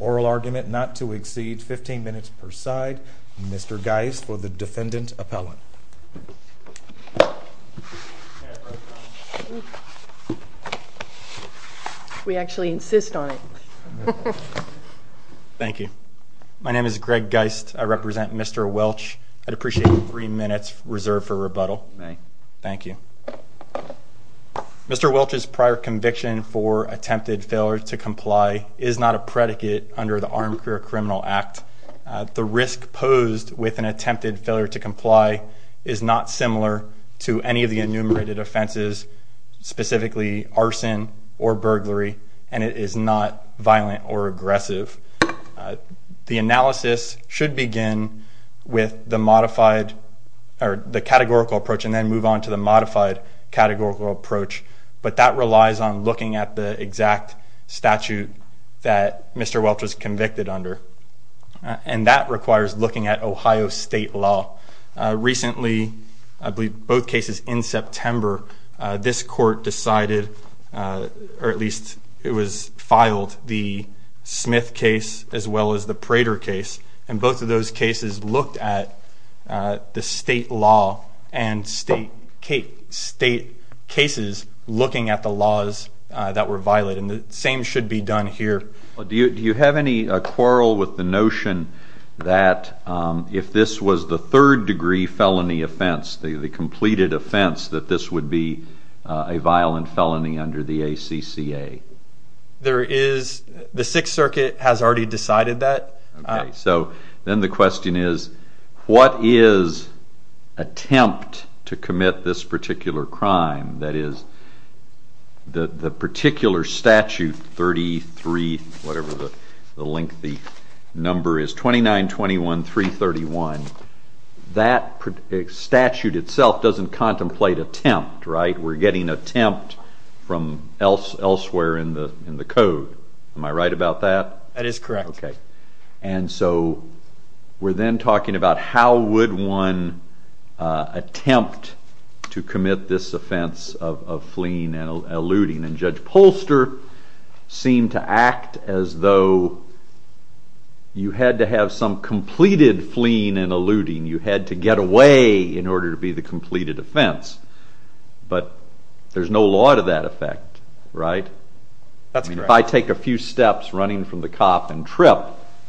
oral argument not to exceed 15 minutes per side. Mr. Geist for the defendant appellant. We actually insist on it. Thank you. My name is Greg Geist. I represent Mr. Welch. I'd appreciate three minutes reserved for Mr. Welch's prior conviction for attempted failure to comply is not a predicate under the Armed Career Criminal Act. The risk posed with an attempted failure to comply is not similar to any of the enumerated offenses, specifically arson or burglary, and it is not violent or aggressive. The analysis should begin with the categorical approach and then move on to the modified categorical approach, but that relies on looking at the exact statute that Mr. Welch was convicted under, and that requires looking at Ohio state law. Recently, I believe both cases in September, this court decided, or at least it was filed, the Smith case as well as the Prater case, and both of those cases looked at the state law and state cases looking at the laws that were violent, and the same should be done here. Do you have any quarrel with the notion that if this was the third degree felony offense, the completed offense, that this would be a violent felony under the ACCA? The Sixth Circuit has already decided that. Okay. So then the question is, what is attempt to commit this particular crime? That is, the particular statute 33, whatever the lengthy number is, 2921.331, that statute itself doesn't contemplate attempt, right? We're getting attempt from elsewhere in the code. Am I right about that? That is correct. Okay. And so we're then talking about how would one attempt to commit this offense of fleeing and eluding, and Judge Polster seemed to act as though you had to have some completed fleeing and eluding. You had to get away in order to be the completed offense, but there's no law to that effect, right? That's correct. I mean, if I take a few steps running from the cop and trip,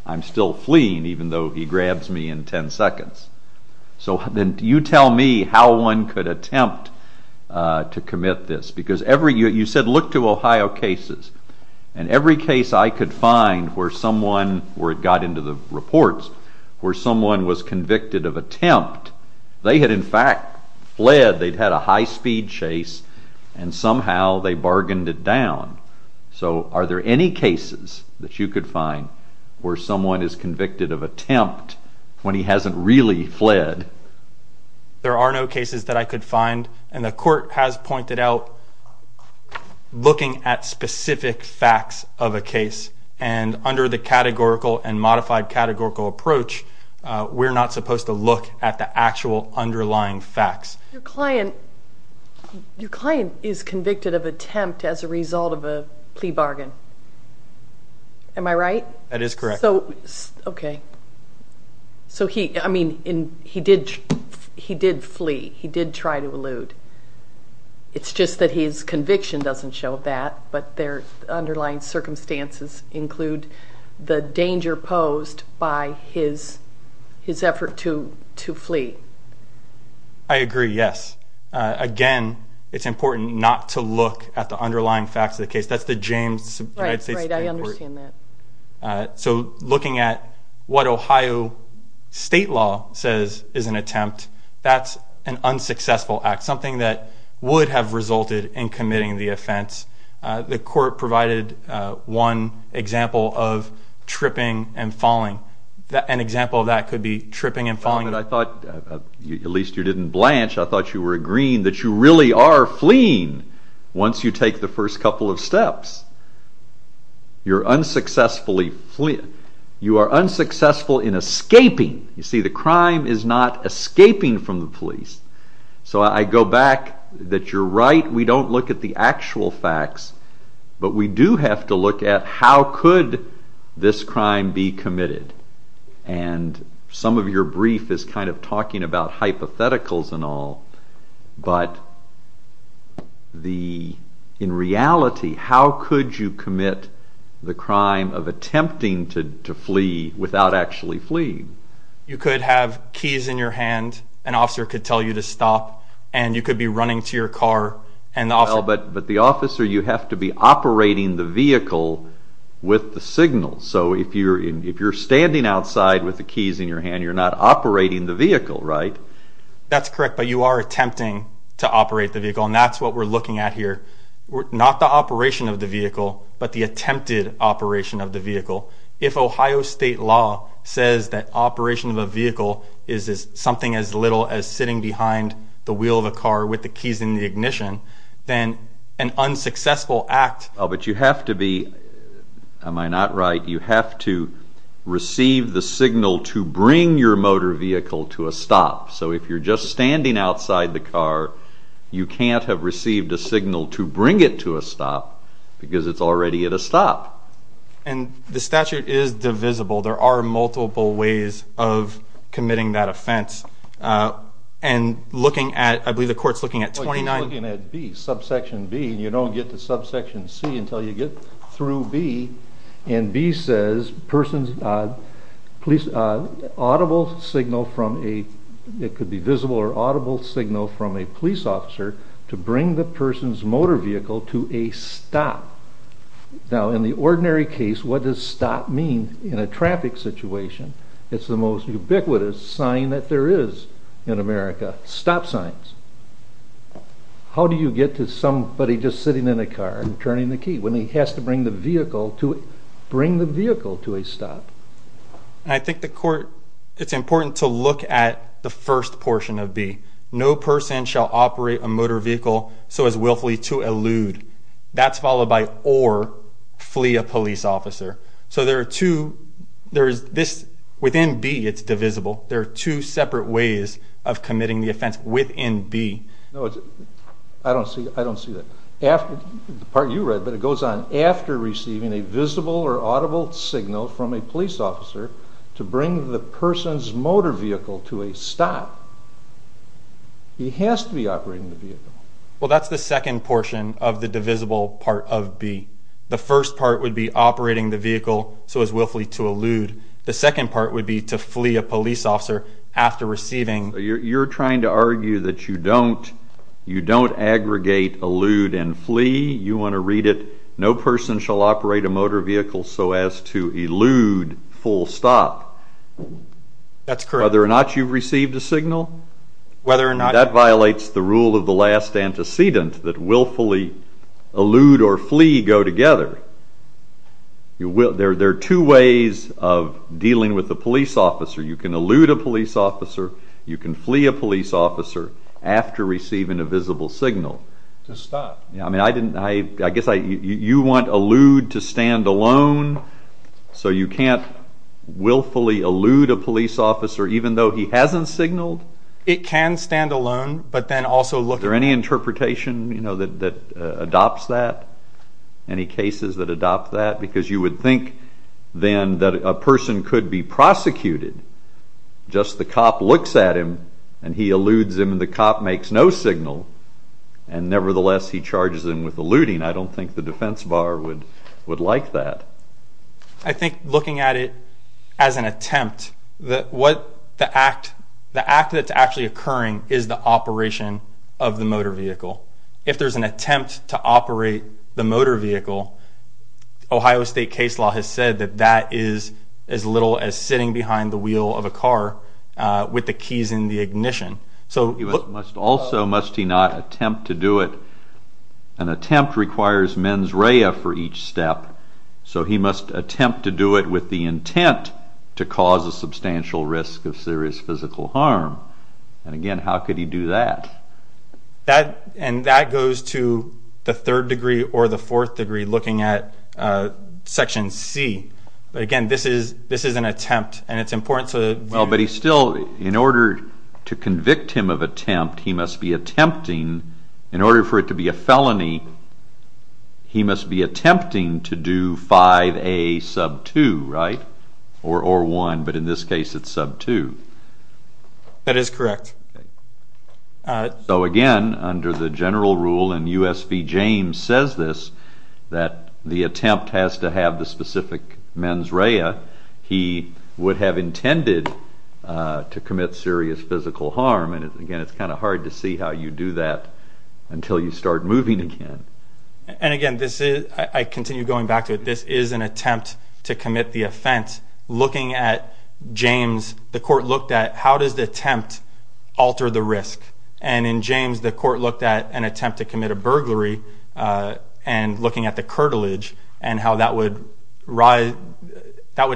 I'm still fleeing even though he grabs me in 10 seconds. So then you tell me how one could attempt to commit this, because you said look to Ohio cases, and every case I could find where someone, where it got into the reports, where someone was convicted of attempt, they had in fact fled, they'd had a high-speed chase, and somehow they bargained it down. So are there any cases that you could find where someone is convicted of attempt when he hasn't really fled? There are no cases that I could find, and the court has pointed out looking at under the categorical and modified categorical approach, we're not supposed to look at the actual underlying facts. Your client is convicted of attempt as a result of a plea bargain. Am I right? That is correct. Okay. So he, I mean, he did flee. He did try to elude. It's just that his conviction doesn't show that, but their underlying circumstances include the danger posed by his effort to flee. I agree, yes. Again, it's important not to look at the underlying facts of the case. That's the James United States Supreme Court. Right, I understand that. So looking at what Ohio state law says is an attempt, that's an unsuccessful act, something that would have resulted in committing the offense. The court provided one example of tripping and falling. An example of that could be tripping and falling. I thought, at least you didn't blanch, I thought you were agreeing that you really are fleeing once you take the first couple of steps. You're unsuccessfully fleeing. You are unsuccessful in escaping. You see, the crime is not escaping from the police. So I go back that you're right, we don't look at the actual facts, but we do have to look at how could this crime be committed. And some of your brief is kind of talking about hypotheticals and all, but the, in reality, how could you commit the crime of attempting to flee without actually fleeing? You could have keys in your hand, an officer could tell you to stop, and you could be running to your car. But the officer, you have to be operating the vehicle with the signal. So if you're standing outside with the keys in your hand, you're not operating the vehicle, right? That's correct, but you are attempting to operate the vehicle, and that's what we're looking at here. Not the operation of the vehicle, but the attempted operation of the vehicle. If Ohio state law says that operation of a vehicle is something as little as sitting behind the wheel of a car with the keys in the ignition, then an unsuccessful act... But you have to be, am I not right, you have to receive the signal to bring your motor vehicle to a stop. So if you're just standing outside the car, you can't have received a signal to bring it to a stop, because it's already at a stop. And the statute is divisible. There are multiple ways of committing that offense. And looking at, I believe the court's looking at 29... Well, you're looking at B, subsection B, and you don't get to subsection C until you get through B. And B says, audible signal from a, it could be visible or audible signal from a police officer to bring the person's motor vehicle to a stop. Now, in the ordinary case, what does stop mean in a traffic situation? It's the most ubiquitous sign that there is in America, stop signs. How do you get to somebody just sitting in a car and turning the key when he has to bring the vehicle to a stop? I think the court, it's important to look at the first portion of B. No person shall operate a motor vehicle so as willfully to elude. That's followed by or flee a police officer. So there are two, there is this, within B it's divisible. There are two separate ways of committing the offense within B. No, I don't see that. The part you read, but it goes on, after receiving a visible or audible signal from a police officer to bring the person's motor vehicle to a stop, he has to be operating the vehicle. Well, that's the second portion of the divisible part of B. The first part would be operating the vehicle so as willfully to elude. The second part would be to flee a police officer after receiving. You're trying to argue that you don't aggregate elude and flee. You want to read it, no person shall operate a motor vehicle so as to elude full stop. That's correct. Whether or not you've received a signal. That violates the rule of the last antecedent that willfully elude or flee go together. There are two ways of dealing with a police officer. You can elude a police officer, you can flee a police officer after receiving a visible signal. To stop. I guess you want elude to stand alone, so you can't willfully elude a police officer even though he hasn't signaled? It can stand alone but then also look. Is there any interpretation that adopts that? Any cases that adopt that? Because you would think then that a person could be prosecuted. Just the cop looks at him and he eludes him and the cop makes no signal and nevertheless he charges him with eluding. I don't think the defense bar would like that. I think looking at it as an attempt, the act that's actually occurring is the operation of the motor vehicle. If there's an attempt to operate the motor vehicle, Ohio State case law has said that that is as little as sitting behind the wheel of a car with the keys in the ignition. He must also, must he not, attempt to do it. An attempt requires mens rea for each step. So he must attempt to do it with the intent to cause a substantial risk of serious physical harm. And again, how could he do that? And that goes to the third degree or the fourth degree, looking at Section C. Again, this is an attempt and it's important to... Well, but he still, in order to convict him of attempt, he must be attempting, in order for it to be a felony, he must be attempting to do 5A sub 2, right? Or 1, but in this case it's sub 2. That is correct. So again, under the general rule, and U.S. v. James says this, that the attempt has to have the specific mens rea. He would have intended to commit serious physical harm, and again, it's kind of hard to see how you do that until you start moving again. And again, I continue going back to it. This is an attempt to commit the offense. Looking at James, the court looked at how does the attempt alter the risk? And in James, the court looked at an attempt to commit a burglary and looking at the curtilage and how that would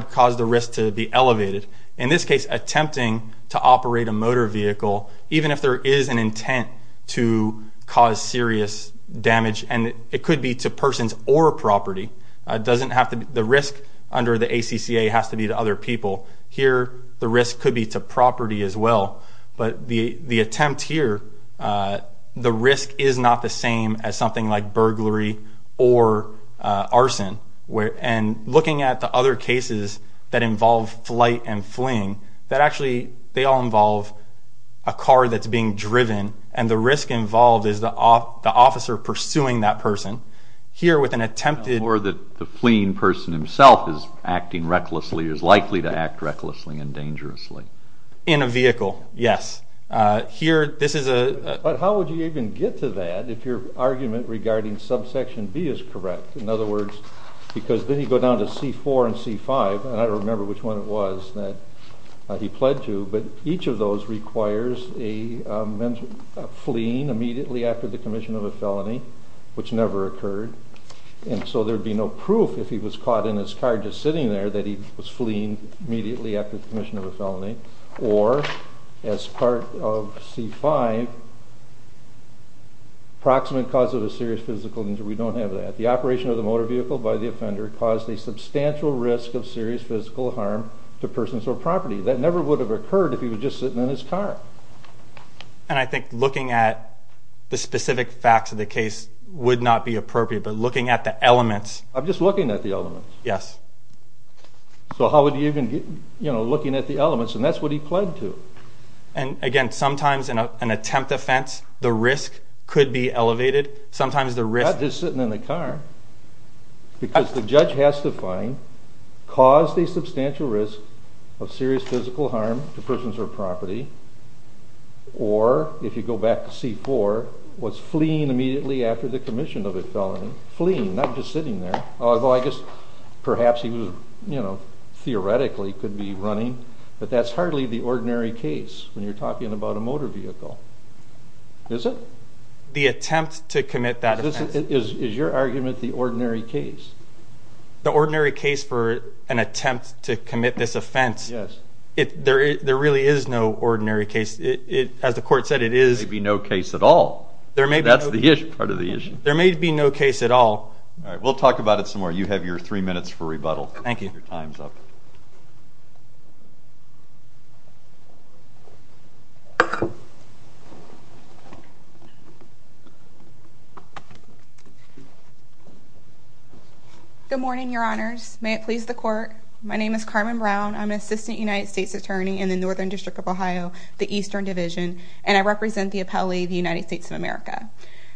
cause the risk to be elevated. In this case, attempting to operate a motor vehicle, even if there is an intent to cause serious damage, and it could be to persons or property, the risk under the ACCA has to be to other people. Here, the risk could be to property as well. But the attempt here, the risk is not the same as something like burglary or arson. And looking at the other cases that involve flight and fleeing, that actually, they all involve a car that's being driven, and the risk involved is the officer pursuing that person. Here, with an attempted... Or that the fleeing person himself is acting recklessly, is likely to act recklessly and dangerously. In a vehicle, yes. Here, this is a... But how would you even get to that if your argument regarding subsection B is correct? In other words, because then you go down to C4 and C5, and I don't remember which one it was that he pled to, but each of those requires a fleeing immediately after the commission of a felony, which never occurred. And so there would be no proof if he was caught in his car just sitting there that he was fleeing immediately after the commission of a felony. Or, as part of C5, proximate cause of a serious physical injury. We don't have that. The operation of the motor vehicle by the offender caused a substantial risk of serious physical harm to persons or property. That never would have occurred if he was just sitting in his car. And I think looking at the specific facts of the case would not be appropriate, but looking at the elements... I'm just looking at the elements. Yes. So how would you even get... You know, looking at the elements, and that's what he pled to. And, again, sometimes in an attempt offense, the risk could be elevated. Sometimes the risk... Not just sitting in the car. Because the judge has to find caused a substantial risk of serious physical harm to persons or property, or, if you go back to C4, was fleeing immediately after the commission of a felony. Fleeing, not just sitting there. Although I guess perhaps he was, you know, theoretically could be running. But that's hardly the ordinary case when you're talking about a motor vehicle. Is it? The attempt to commit that offense. Is your argument the ordinary case? The ordinary case for an attempt to commit this offense. Yes. There really is no ordinary case. As the court said, it is... There may be no case at all. There may be no... That's part of the issue. There may be no case at all. All right, we'll talk about it some more. You have your three minutes for rebuttal. Thank you. Your time's up. Good morning, Your Honors. May it please the court. My name is Carmen Brown. I'm an assistant United States attorney in the Northern District of Ohio, the Eastern Division, and I represent the appellee, the United States of America.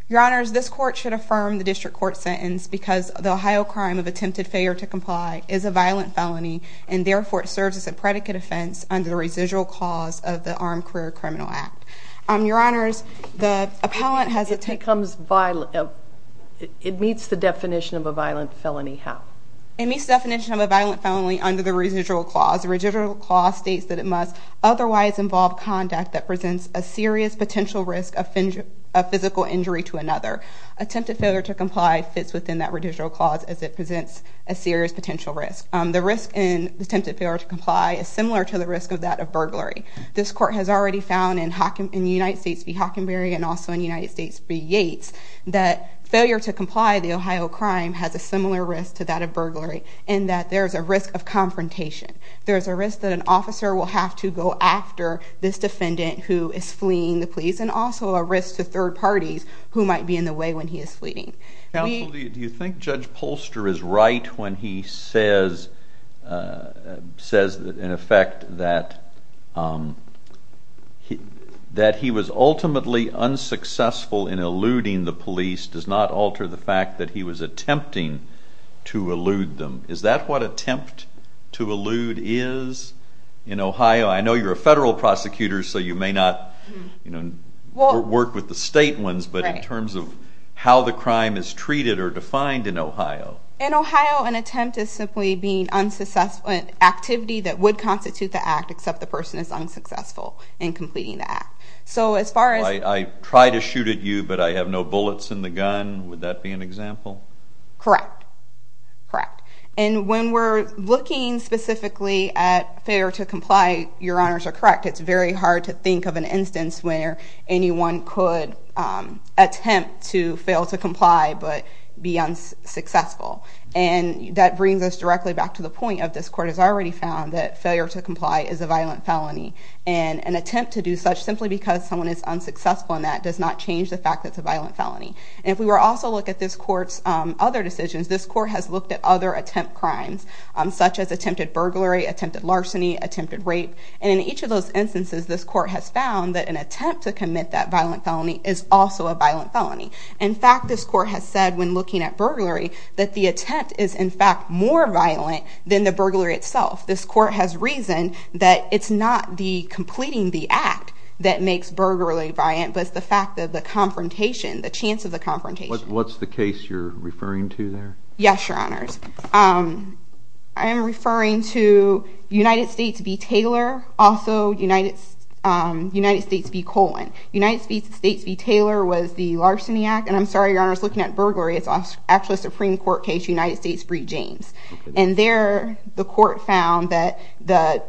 Your Honors, this court should affirm the district court sentence because the Ohio crime of attempted failure to comply is a violent felony, and therefore it serves as a predicate offense under the residual cause of the Armed Career Criminal Act. Your Honors, the appellant has... It meets the definition of a violent felony how? It meets the definition of a violent felony under the residual clause. The residual clause states that it must otherwise involve conduct that presents a serious potential risk of physical injury to another. Attempted failure to comply fits within that residual clause as it presents a serious potential risk. The risk in attempted failure to comply is similar to the risk of that of burglary. This court has already found in the United States v. Hockenberry and also in the United States v. Yates that failure to comply, the Ohio crime, has a similar risk to that of burglary in that there's a risk of confrontation. There's a risk that an officer will have to go after this defendant who is fleeing the police, and also a risk to third parties who might be in the way when he is fleeing. Counsel, do you think Judge Polster is right when he says, in effect, that he was ultimately unsuccessful in eluding the police does not alter the fact that he was attempting to elude them? Is that what attempt to elude is in Ohio? I know you're a federal prosecutor, so you may not work with the state ones, but in terms of how the crime is treated or defined in Ohio? In Ohio, an attempt is simply being unsuccessful in an activity that would constitute the act, except the person is unsuccessful in completing the act. I try to shoot at you, but I have no bullets in the gun. Would that be an example? Correct. When we're looking specifically at failure to comply, your honors are correct. It's very hard to think of an instance where anyone could attempt to fail to comply but be unsuccessful. That brings us directly back to the point of, this court has already found that failure to comply is a violent felony, and an attempt to do such simply because someone is unsuccessful in that does not change the fact that it's a violent felony. If we also look at this court's other decisions, this court has looked at other attempt crimes, such as attempted burglary, attempted larceny, attempted rape. In each of those instances, this court has found that an attempt to commit that violent felony is also a violent felony. In fact, this court has said, when looking at burglary, that the attempt is, in fact, more violent than the burglary itself. This court has reasoned that it's not the completing the act that makes burglary violent, but it's the fact that the confrontation, the chance of the confrontation. What's the case you're referring to there? Yes, your honors. I am referring to United States v. Taylor, also United States v. Colin. United States v. Taylor was the larceny act, and I'm sorry, your honors, looking at burglary, it's actually a Supreme Court case, United States v. James. And there, the court found that the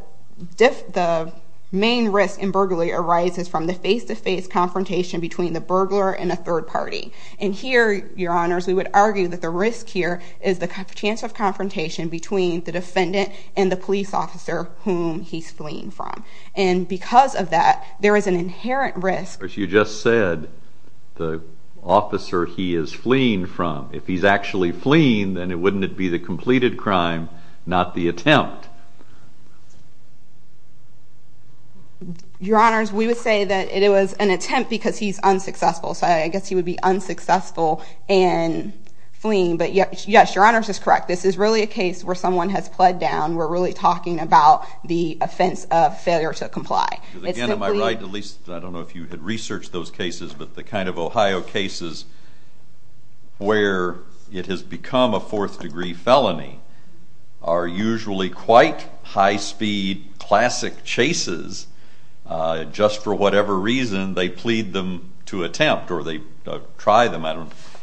main risk in burglary arises from the face-to-face confrontation between the burglar and a third party. And here, your honors, we would argue that the risk here is the chance of confrontation between the defendant and the police officer whom he's fleeing from. And because of that, there is an inherent risk... But you just said the officer he is fleeing from. If he's actually fleeing, then wouldn't it be the completed crime, not the attempt? Your honors, we would say that it was an attempt because he's unsuccessful, so I guess he would be unsuccessful in fleeing. But yes, your honors is correct. This is really a case where someone has pled down. We're really talking about the offense of failure to comply. Again, am I right? I don't know if you had researched those cases, but the kind of Ohio cases where it has become a fourth-degree felony are usually quite high-speed classic chases. Just for whatever reason, they plead them to attempt or they try them.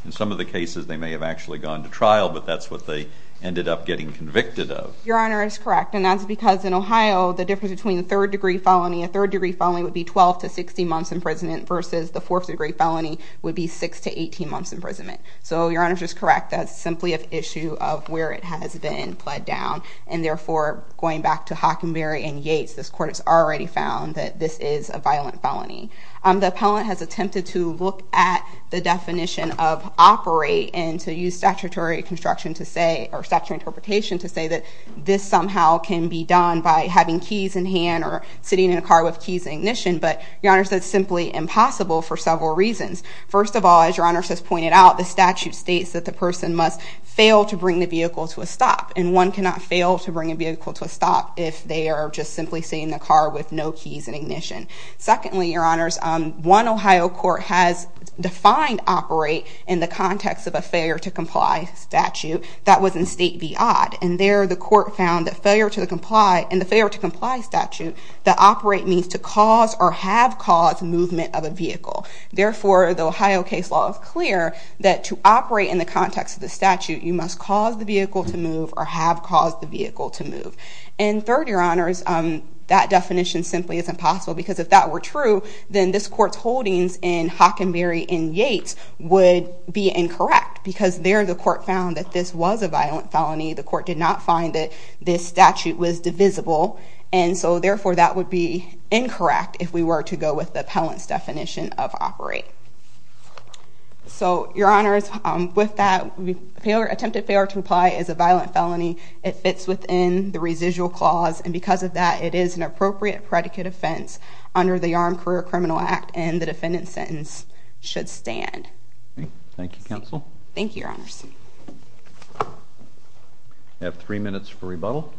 In some of the cases, they may have actually gone to trial, but that's what they ended up getting convicted of. Your honor is correct, and that's because in Ohio, the difference between a third-degree felony... A third-degree felony would be 12 to 16 months in prison versus the fourth-degree felony would be 6 to 18 months in prison. So your honors is correct. That's simply an issue of where it has been pled down. And therefore, going back to Hockenberry and Yates, this court has already found that this is a violent felony. The appellant has attempted to look at the definition of operate and to use statutory construction to say... or statutory interpretation to say that this somehow can be done by having keys in hand or sitting in a car with keys in ignition. But your honors, that's simply impossible for several reasons. First of all, as your honors has pointed out, the statute states that the person must fail to bring the vehicle to a stop. And one cannot fail to bring a vehicle to a stop if they are just simply sitting in a car with no keys in ignition. Secondly, your honors, one Ohio court has defined operate in the context of a failure-to-comply statute. That was in State v. Odd. And there, the court found that failure-to-comply and the failure-to-comply statute that operate means to cause or have caused movement of a vehicle. Therefore, the Ohio case law is clear that to operate in the context of the statute, you must cause the vehicle to move or have caused the vehicle to move. And third, your honors, that definition simply is impossible because if that were true, then this court's holdings in Hockenberry and Yates would be incorrect because there, the court found that this was a violent felony. The court did not find that this statute was divisible. And so, therefore, that would be incorrect if we were to go with the appellant's definition of operate. So, your honors, with that, attempted failure-to-comply is a violent felony. It fits within the residual clause. And because of that, it is an appropriate predicate offense under the Armed Career Criminal Act. Thank you, counsel. Thank you, your honors. You have three minutes for rebuttal.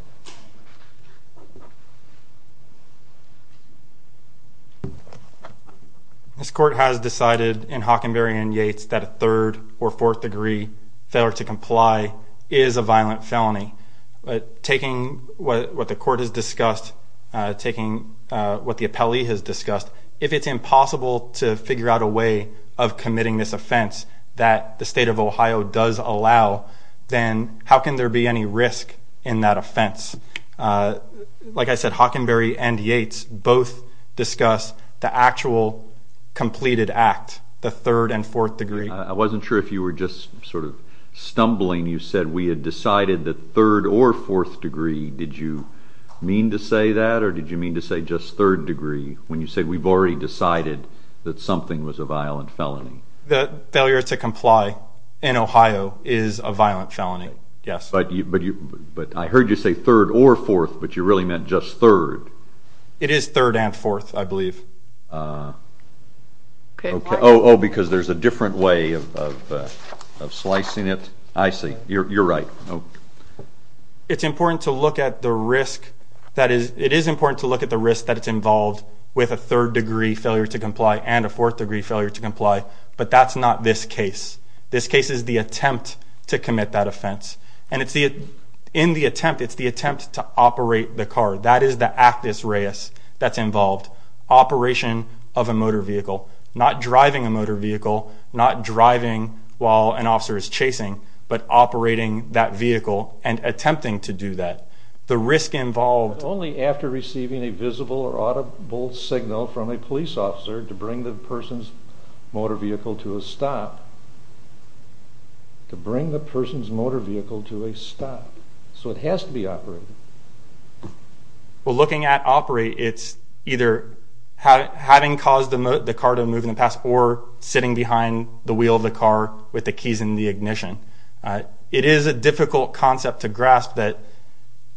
This court has decided in Hockenberry and Yates that a third- or fourth-degree failure-to-comply is a violent felony. Taking what the court has discussed, taking what the appellee has discussed, if it's impossible to figure out a way of committing this offense that the state of Ohio does allow, then how can there be any risk in that offense? Like I said, Hockenberry and Yates both discuss the actual completed act, the third- and fourth-degree. I wasn't sure if you were just sort of stumbling. You said we had decided that third- or fourth-degree. Did you mean to say that, or did you mean to say just third-degree when you said we've already decided that something was a violent felony? The failure-to-comply in Ohio is a violent felony, yes. But I heard you say third or fourth, but you really meant just third. It is third and fourth, I believe. Oh, because there's a different way of slicing it? I see. You're right. It's important to look at the risk that it's involved with a third-degree failure-to-comply and a fourth-degree failure-to-comply, but that's not this case. This case is the attempt to commit that offense. And in the attempt, it's the attempt to operate the car. That is the actus reus that's involved, operation of a motor vehicle. Not driving a motor vehicle, not driving while an officer is chasing, but operating that vehicle and attempting to do that. The risk involved... Only after receiving a visible or audible signal from a police officer to bring the person's motor vehicle to a stop. To bring the person's motor vehicle to a stop. So it has to be operated. Well, looking at operate, it's either having caused the car to move in the past or sitting behind the wheel of the car with the keys in the ignition. It is a difficult concept to grasp that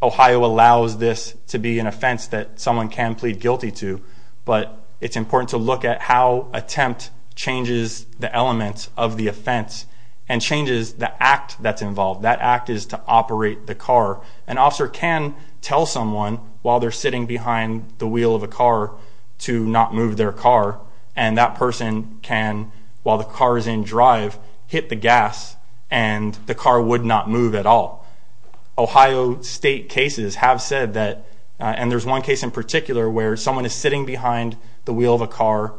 Ohio allows this to be an offense that someone can plead guilty to, but it's important to look at how attempt changes the elements of the offense and changes the act that's involved. That act is to operate the car. An officer can tell someone while they're sitting behind the wheel of a car to not move their car, and that person can, while the car is in drive, hit the gas, and the car would not move at all. Ohio State cases have said that... And there's one case in particular where someone is sitting behind the wheel of a car.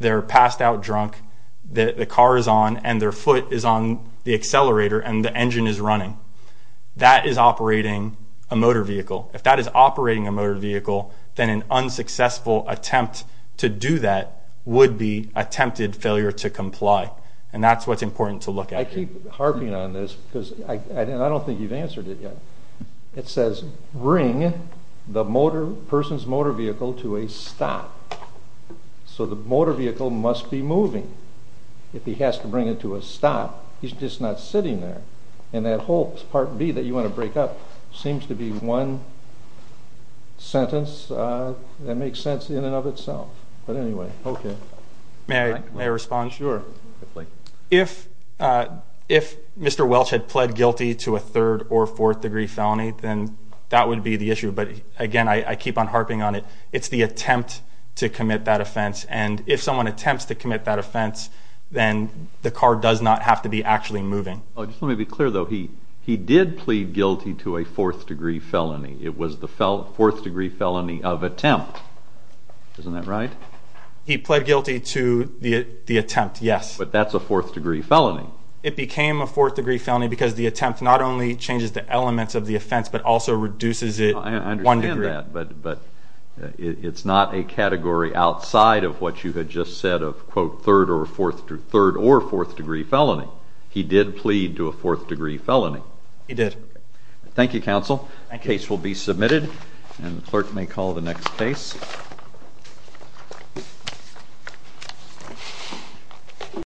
They're passed out drunk. The car is on, and their foot is on the accelerator, and the engine is running. That is operating a motor vehicle. If that is operating a motor vehicle, then an unsuccessful attempt to do that would be attempted failure to comply, and that's what's important to look at. I keep harping on this, because I don't think you've answered it yet. It says, bring the person's motor vehicle to a stop. So the motor vehicle must be moving. If he has to bring it to a stop, he's just not sitting there. And that whole Part B that you want to break up seems to be one sentence that makes sense in and of itself. But anyway, okay. May I respond? Sure. If Mr. Welch had pled guilty to a third- or fourth-degree felony, then that would be the issue. But again, I keep on harping on it. It's the attempt to commit that offense, and if someone attempts to commit that offense, then the car does not have to be actually moving. Just let me be clear, though. He did plead guilty to a fourth-degree felony. It was the fourth-degree felony of attempt. Isn't that right? He pled guilty to the attempt, yes. But that's a fourth-degree felony. It became a fourth-degree felony because the attempt not only changes the elements of the offense, but also reduces it one degree. I understand that, but it's not a category outside of what you had just said of, quote, third- or fourth-degree felony. He did plead to a fourth-degree felony. He did. Thank you, counsel. The case will be submitted, and the clerk may call the next case.